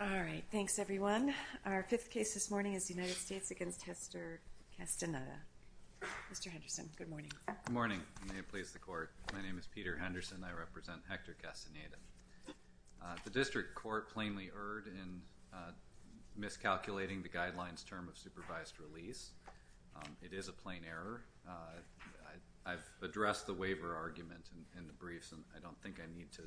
All right, thanks everyone. Our fifth case this morning is the United States against Hector Castaneda. Mr. Henderson, good morning. Good morning. May it please the court. My name is Peter Henderson. I represent Hector Castaneda. The district court plainly erred in miscalculating the guidelines term of supervised release. It is a plain error. I've addressed the waiver argument in the briefs and I don't think I need to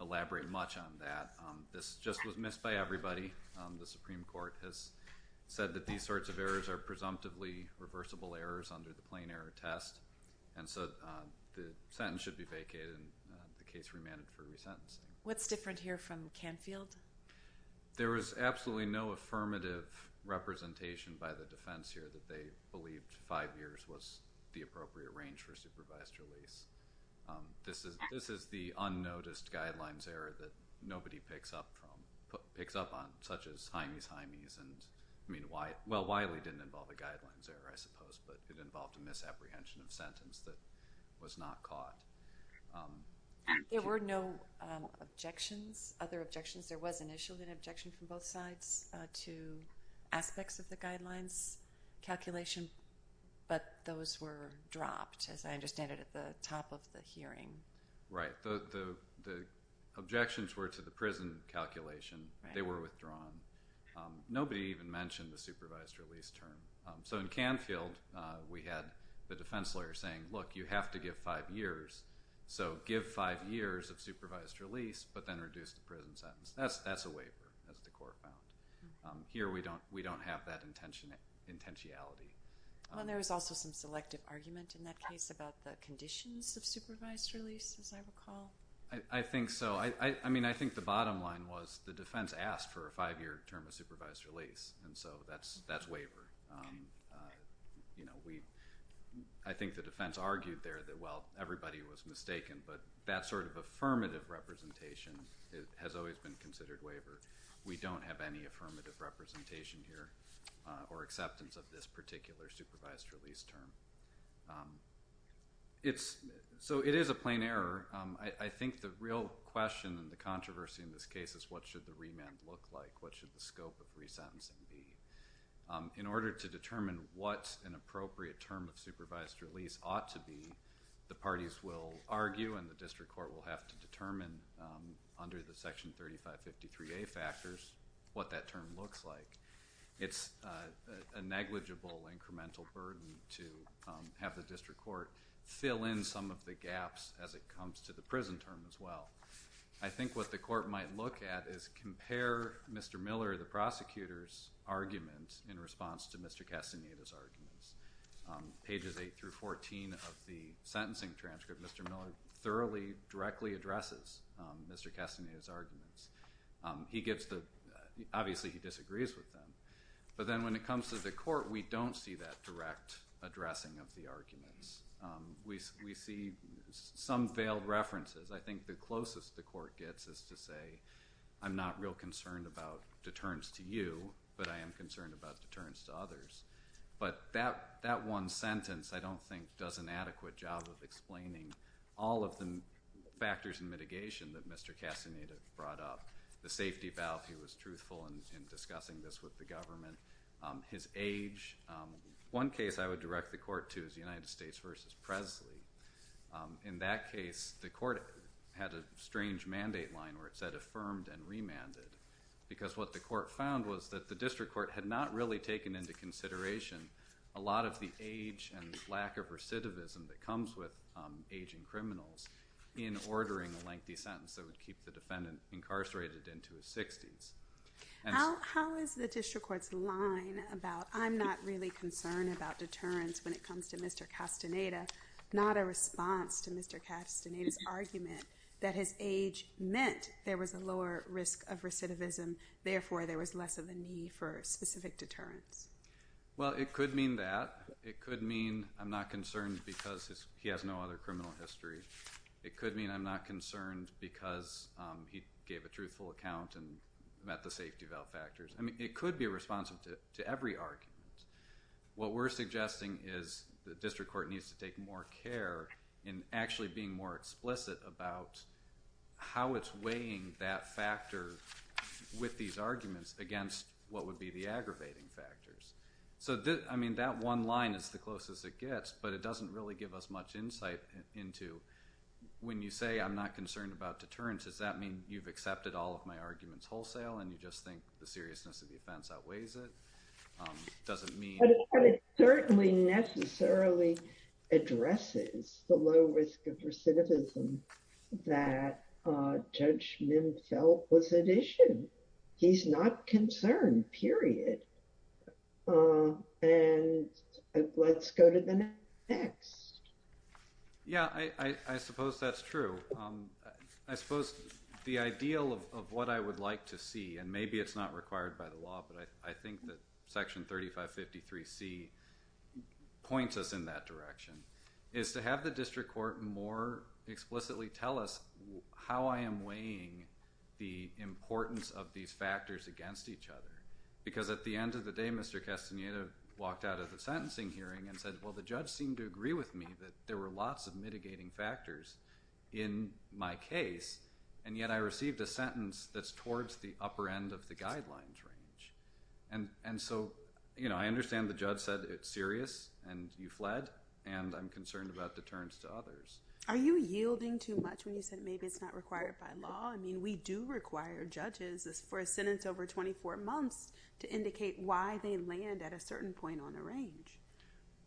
elaborate much on that. This just was missed by everybody. The Supreme Court has said that these sorts of errors are presumptively reversible errors under the plain error test and so the sentence should be vacated and the case remanded for resentencing. What's different here from Canfield? There was absolutely no affirmative representation by the defense here that they believed five years was the appropriate range for this. It's the unnoticed guidelines error that nobody picks up on such as hymies hymies. Well, Wiley didn't involve a guidelines error, I suppose, but it involved a misapprehension of sentence that was not caught. There were no objections, other objections. There was initially an objection from both sides to aspects of the guidelines calculation but those were dropped, as I understand it, at the top of the hearing. Right. The objections were to the prison calculation. They were withdrawn. Nobody even mentioned the supervised release term. So in Canfield we had the defense lawyer saying, look, you have to give five years, so give five years of supervised release but then reduce the prison sentence. That's a waiver, as the court found. Here we don't have that intention, intentionality. Well, there was also some selective argument in that case about the conditions of supervised release, as I recall. I think so. I mean, I think the bottom line was the defense asked for a five-year term of supervised release and so that's that's waiver. You know, we, I think the defense argued there that, well, everybody was mistaken but that sort of affirmative representation has always been considered waiver. We don't have any affirmative representation here or acceptance of this particular supervised release term. It's, so it is a plain error. I think the real question and the controversy in this case is what should the remand look like? What should the scope of resentencing be? In order to determine what an appropriate term of supervised release ought to be, the parties will argue and the district court will have to determine under the section 3553A factors what that term looks like. It's a negligible incremental burden to have the district court fill in some of the gaps as it comes to the prison term as well. I think what the court might look at is compare Mr. Miller, the prosecutor's argument in response to Mr. Castaneda's arguments. Pages 8 through 14 of the sentencing transcript, Mr. Miller thoroughly directly addresses Mr. Castaneda's arguments. He gets the, obviously he disagrees with them, but then when it comes to the court we don't see that direct addressing of the arguments. We see some veiled references. I think the closest the court gets is to say I'm not real concerned about deterrence to you but I am concerned about deterrence to others. But that that one sentence I don't think does an adequate job of explaining all of the factors and mitigation that Mr. Castaneda brought up. The safety valve, he was truthful in discussing this with the government. His age, one case I would direct the court to is the United States versus Presley. In that case the court had a strange mandate line where it said affirmed and remanded because what the court found was that the district court had not really taken into consideration a lot of the age and lack of recidivism that aging criminals in ordering a lengthy sentence that would keep the defendant incarcerated into his 60s. How is the district court's line about I'm not really concerned about deterrence when it comes to Mr. Castaneda not a response to Mr. Castaneda's argument that his age meant there was a lower risk of recidivism therefore there was less of a need for specific deterrence? Well it could mean that. It could mean I'm not concerned because he has no other criminal history. It could mean I'm not concerned because he gave a truthful account and met the safety valve factors. I mean it could be responsive to every argument. What we're suggesting is the district court needs to take more care in actually being more explicit about how it's weighing that factor with these I mean that one line is the closest it gets but it doesn't really give us much insight into when you say I'm not concerned about deterrence does that mean you've accepted all of my arguments wholesale and you just think the seriousness of the offense outweighs it? It certainly necessarily addresses the low risk of recidivism that Judge Mim felt was an issue. He's not concerned period and let's go to the next. Yeah I suppose that's true. I suppose the ideal of what I would like to see and maybe it's not required by the law but I think that section 3553 C points us in that direction is to have the district court more explicitly tell us how I am weighing the importance of these factors against each other because at the end of the day Mr. Castaneda walked out of the sentencing hearing and said well the judge seemed to agree with me that there were lots of mitigating factors in my case and yet I received a sentence that's towards the upper end of the guidelines range and and so you know I understand the judge said it's serious and you fled and I'm concerned about deterrence to others. Are you yielding too much when you said maybe it's not 24 months to indicate why they land at a certain point on a range?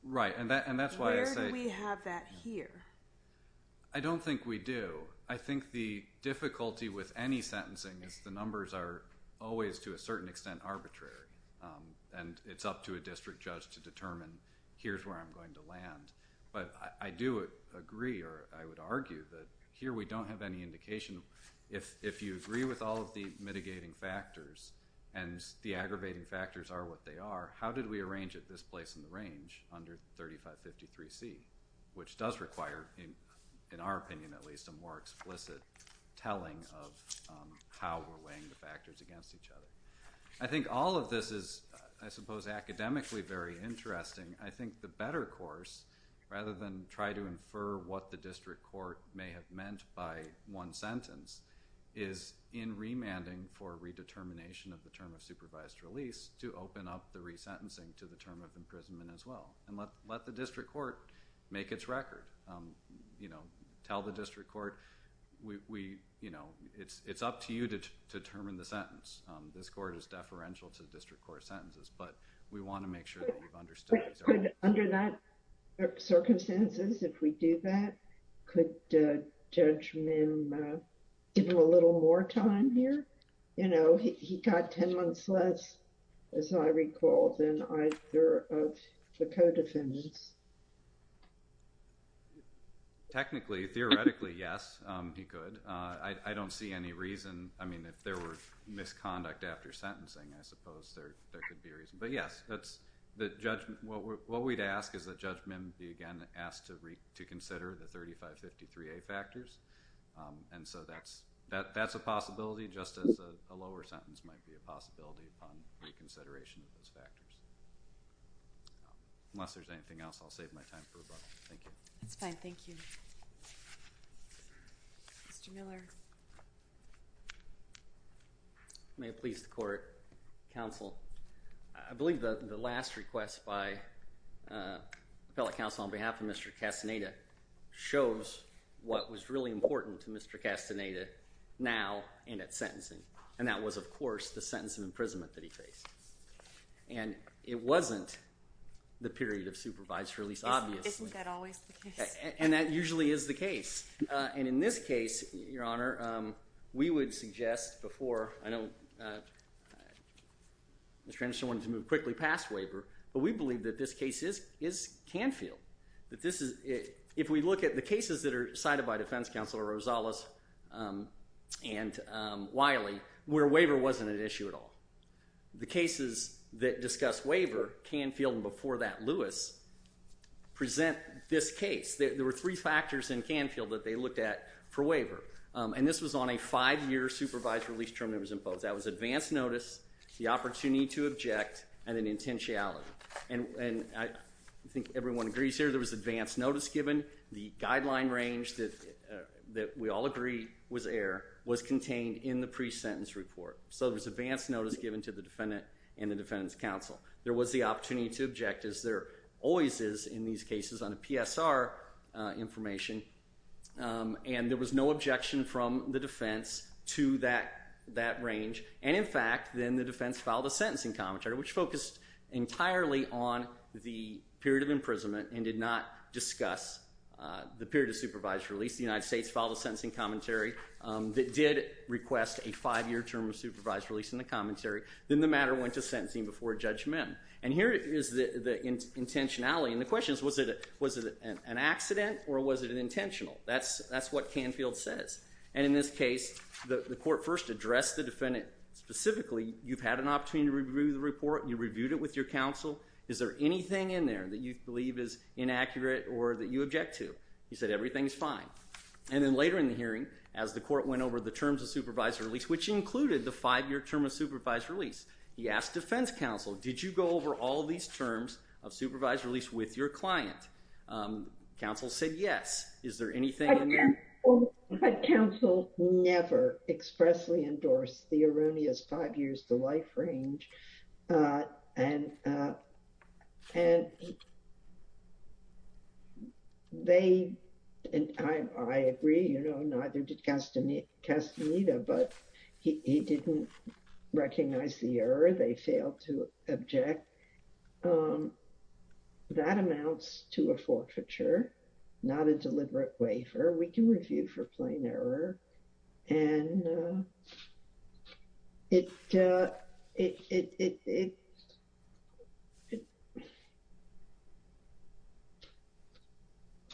Right and that and that's why I say we have that here. I don't think we do. I think the difficulty with any sentencing is the numbers are always to a certain extent arbitrary and it's up to a district judge to determine here's where I'm going to land but I do agree or I would argue that here we don't have any indication if if you agree with all of the mitigating factors and the aggravating factors are what they are how did we arrange at this place in the range under 3553 C which does require in in our opinion at least a more explicit telling of how we're weighing the factors against each other. I think all of this is I suppose academically very interesting. I think the better course rather than try to infer what the district court may have meant by one sentence is in remanding for redetermination of the term of supervised release to open up the resentencing to the term of imprisonment as well and let let the district court make its record. You know tell the district court we you know it's it's up to you to determine the sentence. This court is deferential to the district court sentences but we want to make sure we've understood. Under that circumstances if we do that could Judge Mim give him a little more time here? You know he got ten months less as I recall than either of the co-defendants. Technically theoretically yes he could. I don't see any reason I mean if there were misconduct after sentencing I guess that's the judgment. What we'd ask is that Judge Mim be again asked to reconsider the 3553A factors and so that's that that's a possibility just as a lower sentence might be a possibility upon reconsideration of those factors. Unless there's anything else I'll save my time for rebuttal. Thank you. That's fine. Thank you. Mr. Miller. May it please the court. Counsel I believe the last request by appellate counsel on behalf of Mr. Castaneda shows what was really important to Mr. Castaneda now in its sentencing and that was of course the sentence of imprisonment that he faced. And it wasn't the period of supervisor release obviously. And that usually is the case and in this case your honor we would suggest before I know Mr. Anderson wanted to move quickly past waiver but we believe that this case is is Canfield. That this is if we look at the cases that are cited by defense counsel Rosales and Wiley where waiver wasn't an present this case. There were three factors in Canfield that they looked at for waiver and this was on a five-year supervised release term that was imposed. That was advanced notice, the opportunity to object, and an intentionality. And I think everyone agrees here there was advanced notice given. The guideline range that that we all agree was air was contained in the pre-sentence report. So there's advanced notice given to the defendant and the always is in these cases on a PSR information. And there was no objection from the defense to that that range. And in fact then the defense filed a sentencing commentary which focused entirely on the period of imprisonment and did not discuss the period of supervised release. The United States filed a sentencing commentary that did request a five-year term of supervised release in the commentary. Then the matter went to sentencing before judgment. And here is the intentionality and the question is was it was it an accident or was it an intentional? That's that's what Canfield says. And in this case the court first addressed the defendant specifically, you've had an opportunity to review the report, you reviewed it with your counsel, is there anything in there that you believe is inaccurate or that you object to? He said everything is fine. And then later in the hearing as the court went over the terms of supervised release, which included the five-year term of supervised release, he said, did you go over all these terms of supervised release with your client? Counsel said yes. Is there anything in there? But counsel never expressly endorsed the erroneous five years to life range. And they, and I agree, you know, neither did Castaneda, but he didn't recognize the error. They failed to object. That amounts to a forfeiture, not a deliberate waiver. We can review for plain error. And it,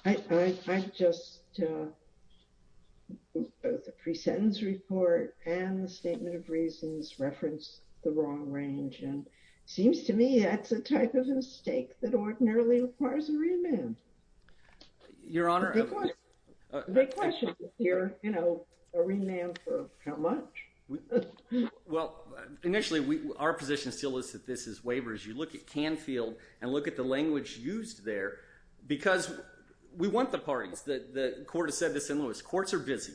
I just, both the reasons reference the wrong range, and seems to me that's a type of mistake that ordinarily requires a remand. Your Honor, a remand for how much? Well, initially we, our position still is that this is waivers. You look at Canfield and look at the language used there, because we want the parties. The court has said this in Lewis, courts are busy.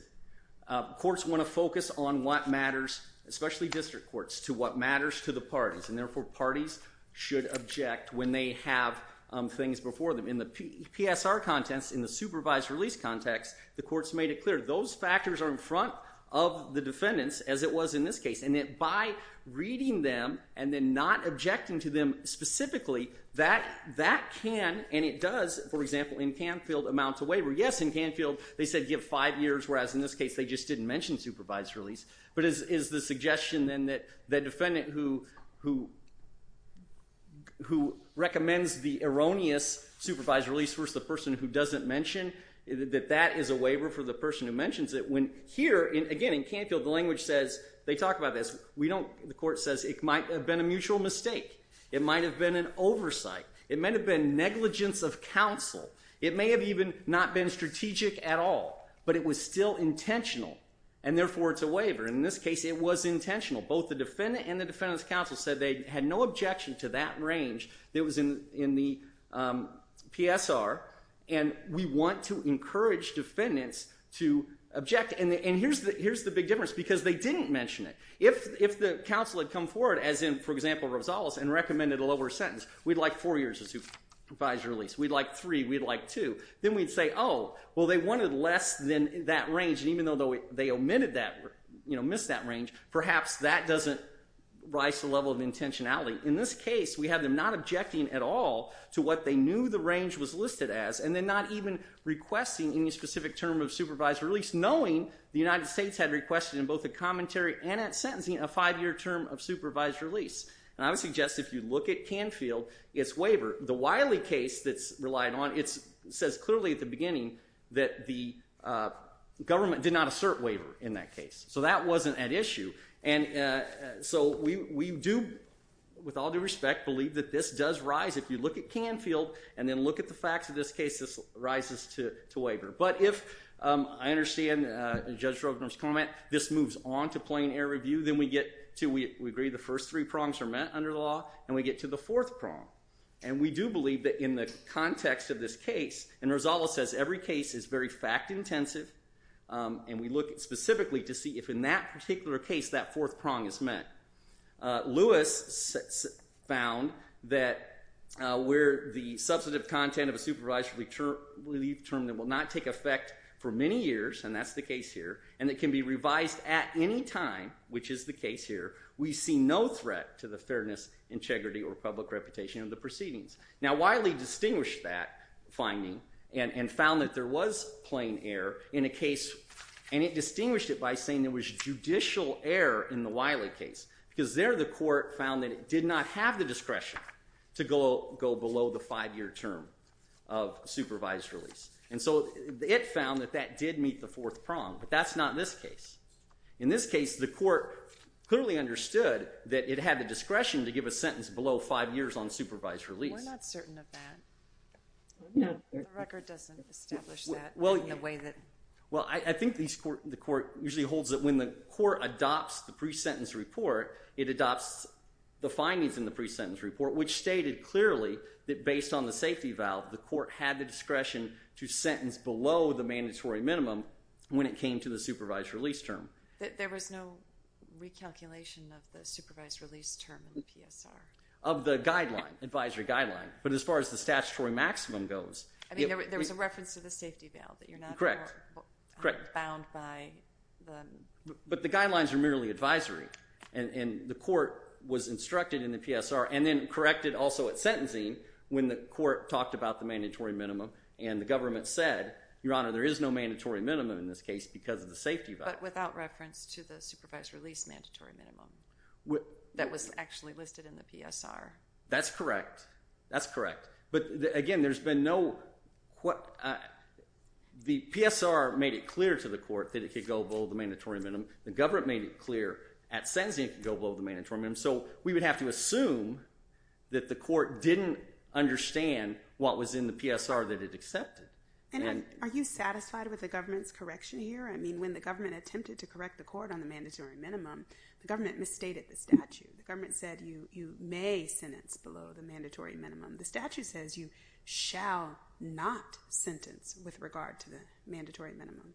Courts want to focus on what matters, especially district courts, to what matters to the parties. And therefore, parties should object when they have things before them. In the PSR context, in the supervised release context, the courts made it clear. Those factors are in front of the defendants, as it was in this case. And that by reading them and then not objecting to them specifically, that, that can, and it does, for example in Canfield, amount to waiver. Yes, in Canfield they said give five years, whereas in this case they just didn't mention supervised release. But is, is the suggestion then that the defendant who, who, who recommends the erroneous supervised release versus the person who doesn't mention, that that is a waiver for the person who mentions it. When here, and again in Canfield the language says, they talk about this, we don't, the court says it might have been a mutual mistake. It might have been an oversight. It might have been negligence of counsel. It may have even not been strategic at all. But it was still intentional. And therefore it's a waiver. In this case it was intentional. Both the defendant and the defendant's counsel said they had no objection to that range that was in, in the PSR. And we want to encourage defendants to object. And the, and here's the, here's the big difference because they didn't mention it. If, if the counsel had come forward as in, for example, Rosales and recommended a lower sentence, we'd like four years of supervised release. We'd like three. We'd like two. Then we'd say, oh, well they wanted less than that range. And even though they omitted that, you know, missed that range, perhaps that doesn't rise to the level of intentionality. In this case, we have them not objecting at all to what they knew the range was listed as, and then not even requesting any specific term of supervised release, knowing the United States had requested in both the commentary and at sentencing a five-year term of supervised release. And I would suggest if you look at Canfield, it's waiver. The Wiley case that's relied on, it's, says clearly at the beginning that the government did not assert waiver in that case. So that wasn't an issue. And so we, we do, with all due respect, believe that this does rise. If you look at Canfield and then look at the facts of this case, this rises to, to waiver. But if, I understand Judge Stroganoff's comment, this moves on to plain air review, then we get to, we agree the first three prongs are met under the law, and we get to the fourth context of this case. And Rosales says every case is very fact-intensive. And we look at specifically to see if in that particular case that fourth prong is met. Lewis found that where the substantive content of a supervisory term will not take effect for many years, and that's the case here, and it can be revised at any time, which is the case here, we see no threat to the fairness, integrity, or integrity of the court. And it distinguished that finding and, and found that there was plain air in a case, and it distinguished it by saying there was judicial air in the Wiley case, because there the court found that it did not have the discretion to go, go below the five-year term of supervised release. And so it found that that did meet the fourth prong, but that's not in this case. In this case, the court clearly understood that it had the discretion to give a sentence below five years on supervised release. We're not certain of that. The record doesn't establish that in the way that... Well, I think the court usually holds that when the court adopts the pre-sentence report, it adopts the findings in the pre-sentence report, which stated clearly that based on the safety valve, the court had the discretion to sentence below the mandatory minimum when it came to the supervised release term. There was no recalculation of the supervised release term in the PSR? Of the guideline, advisory guideline, but as far as the statutory maximum goes... I mean, there was a reference to the safety valve, that you're not bound by... But the guidelines are merely advisory, and the court was instructed in the PSR and then corrected also at sentencing when the court talked about the mandatory minimum, and the government said, Your Honor, there is no mandatory minimum in this case because of the safety valve. But without reference to the PSR. That's correct. That's correct. But again, there's been no... The PSR made it clear to the court that it could go below the mandatory minimum. The government made it clear at sentencing it could go below the mandatory minimum, so we would have to assume that the court didn't understand what was in the PSR that it accepted. And are you satisfied with the government's correction here? I mean, when the government attempted to correct the court on the mandatory minimum, the statute says you may sentence below the mandatory minimum. The statute says you shall not sentence with regard to the mandatory minimum.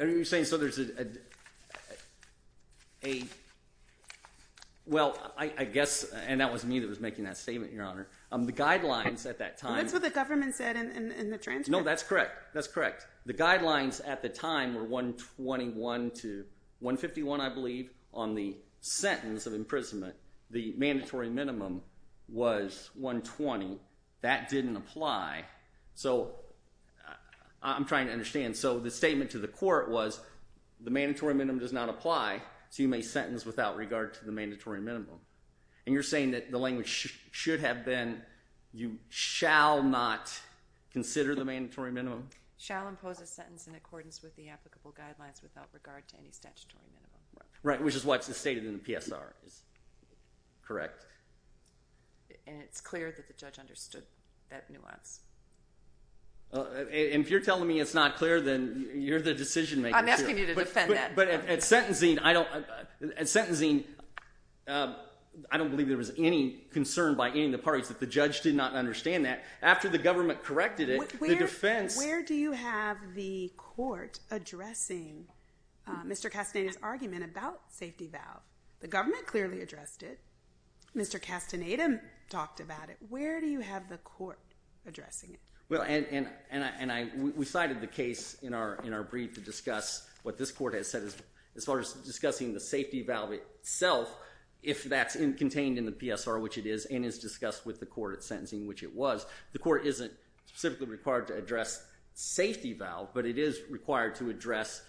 Are you saying so there's a... Well, I guess, and that was me that was making that statement, Your Honor. The guidelines at that time... That's what the government said in the transcript. No, that's correct. That's correct. The guidelines at the time were 121 to... Sentence of imprisonment, the mandatory minimum was 120. That didn't apply. So I'm trying to understand. So the statement to the court was the mandatory minimum does not apply, so you may sentence without regard to the mandatory minimum. And you're saying that the language should have been, you shall not consider the mandatory minimum? Shall impose a sentence in accordance with the applicable guidelines without regard to any statutory minimum. Right, which is what's stated in the PSR, correct? And it's clear that the judge understood that nuance. And if you're telling me it's not clear, then you're the decision-maker. I'm asking you to defend that. But at sentencing, I don't believe there was any concern by any of the parties that the judge did not understand that. After the government corrected it, the defense... The government clearly addressed it. Mr. Castaneda talked about it. Where do you have the court addressing it? Well, and we cited the case in our brief to discuss what this court has said, as far as discussing the safety valve itself, if that's contained in the PSR, which it is, and is discussed with the court at sentencing, which it was. The court isn't specifically required to address safety valve, but it is required to address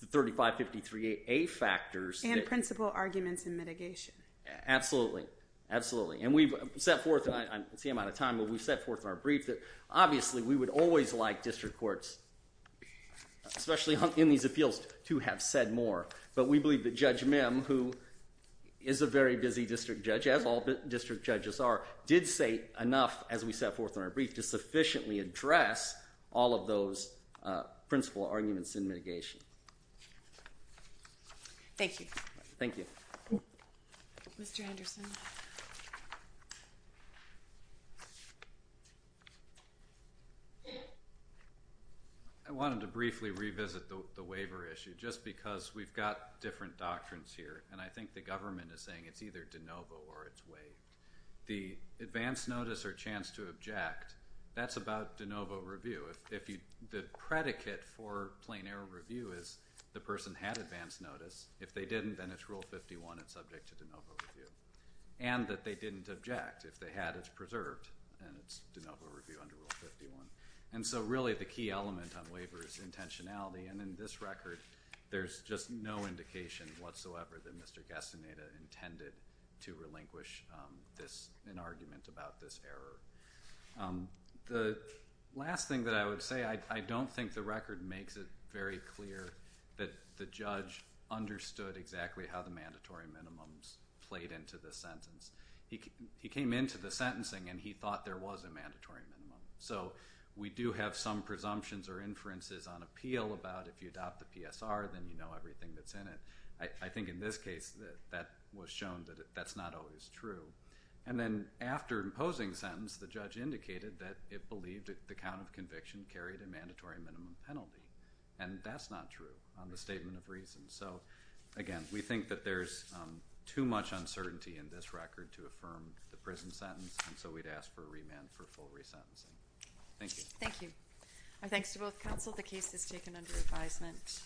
the 3553A factors. And principal arguments in mitigation. Absolutely. Absolutely. And we've set forth, and I'm seeing I'm out of time, but we've set forth in our brief that obviously we would always like district courts, especially in these appeals, to have said more. But we believe that Judge Mim, who is a very busy district judge, as all district judges are, did say enough, as we set forth in our brief, to address principal arguments in mitigation. Thank you. Thank you. Mr. Henderson. I wanted to briefly revisit the waiver issue, just because we've got different doctrines here, and I think the government is saying it's either advance notice or chance to object. That's about de novo review. The predicate for plain error review is the person had advance notice. If they didn't, then it's Rule 51, it's subject to de novo review. And that they didn't object. If they had, it's preserved, and it's de novo review under Rule 51. And so really the key element on waiver is intentionality, and in this record, there's just no indication whatsoever that this error. The last thing that I would say, I don't think the record makes it very clear that the judge understood exactly how the mandatory minimums played into the sentence. He came into the sentencing and he thought there was a mandatory minimum. So we do have some presumptions or inferences on appeal about if you adopt the PSR, then you know everything that's in it. I think in this case, that was shown that that's not always true. And then after imposing sentence, the judge indicated that it believed that the count of conviction carried a mandatory minimum penalty. And that's not true on the statement of reason. So again, we think that there's too much uncertainty in this record to affirm the prison sentence, and so we'd ask for a remand for full resentencing. Thank you. Thank you. Our thanks to both counsel. The case is taken under advisement.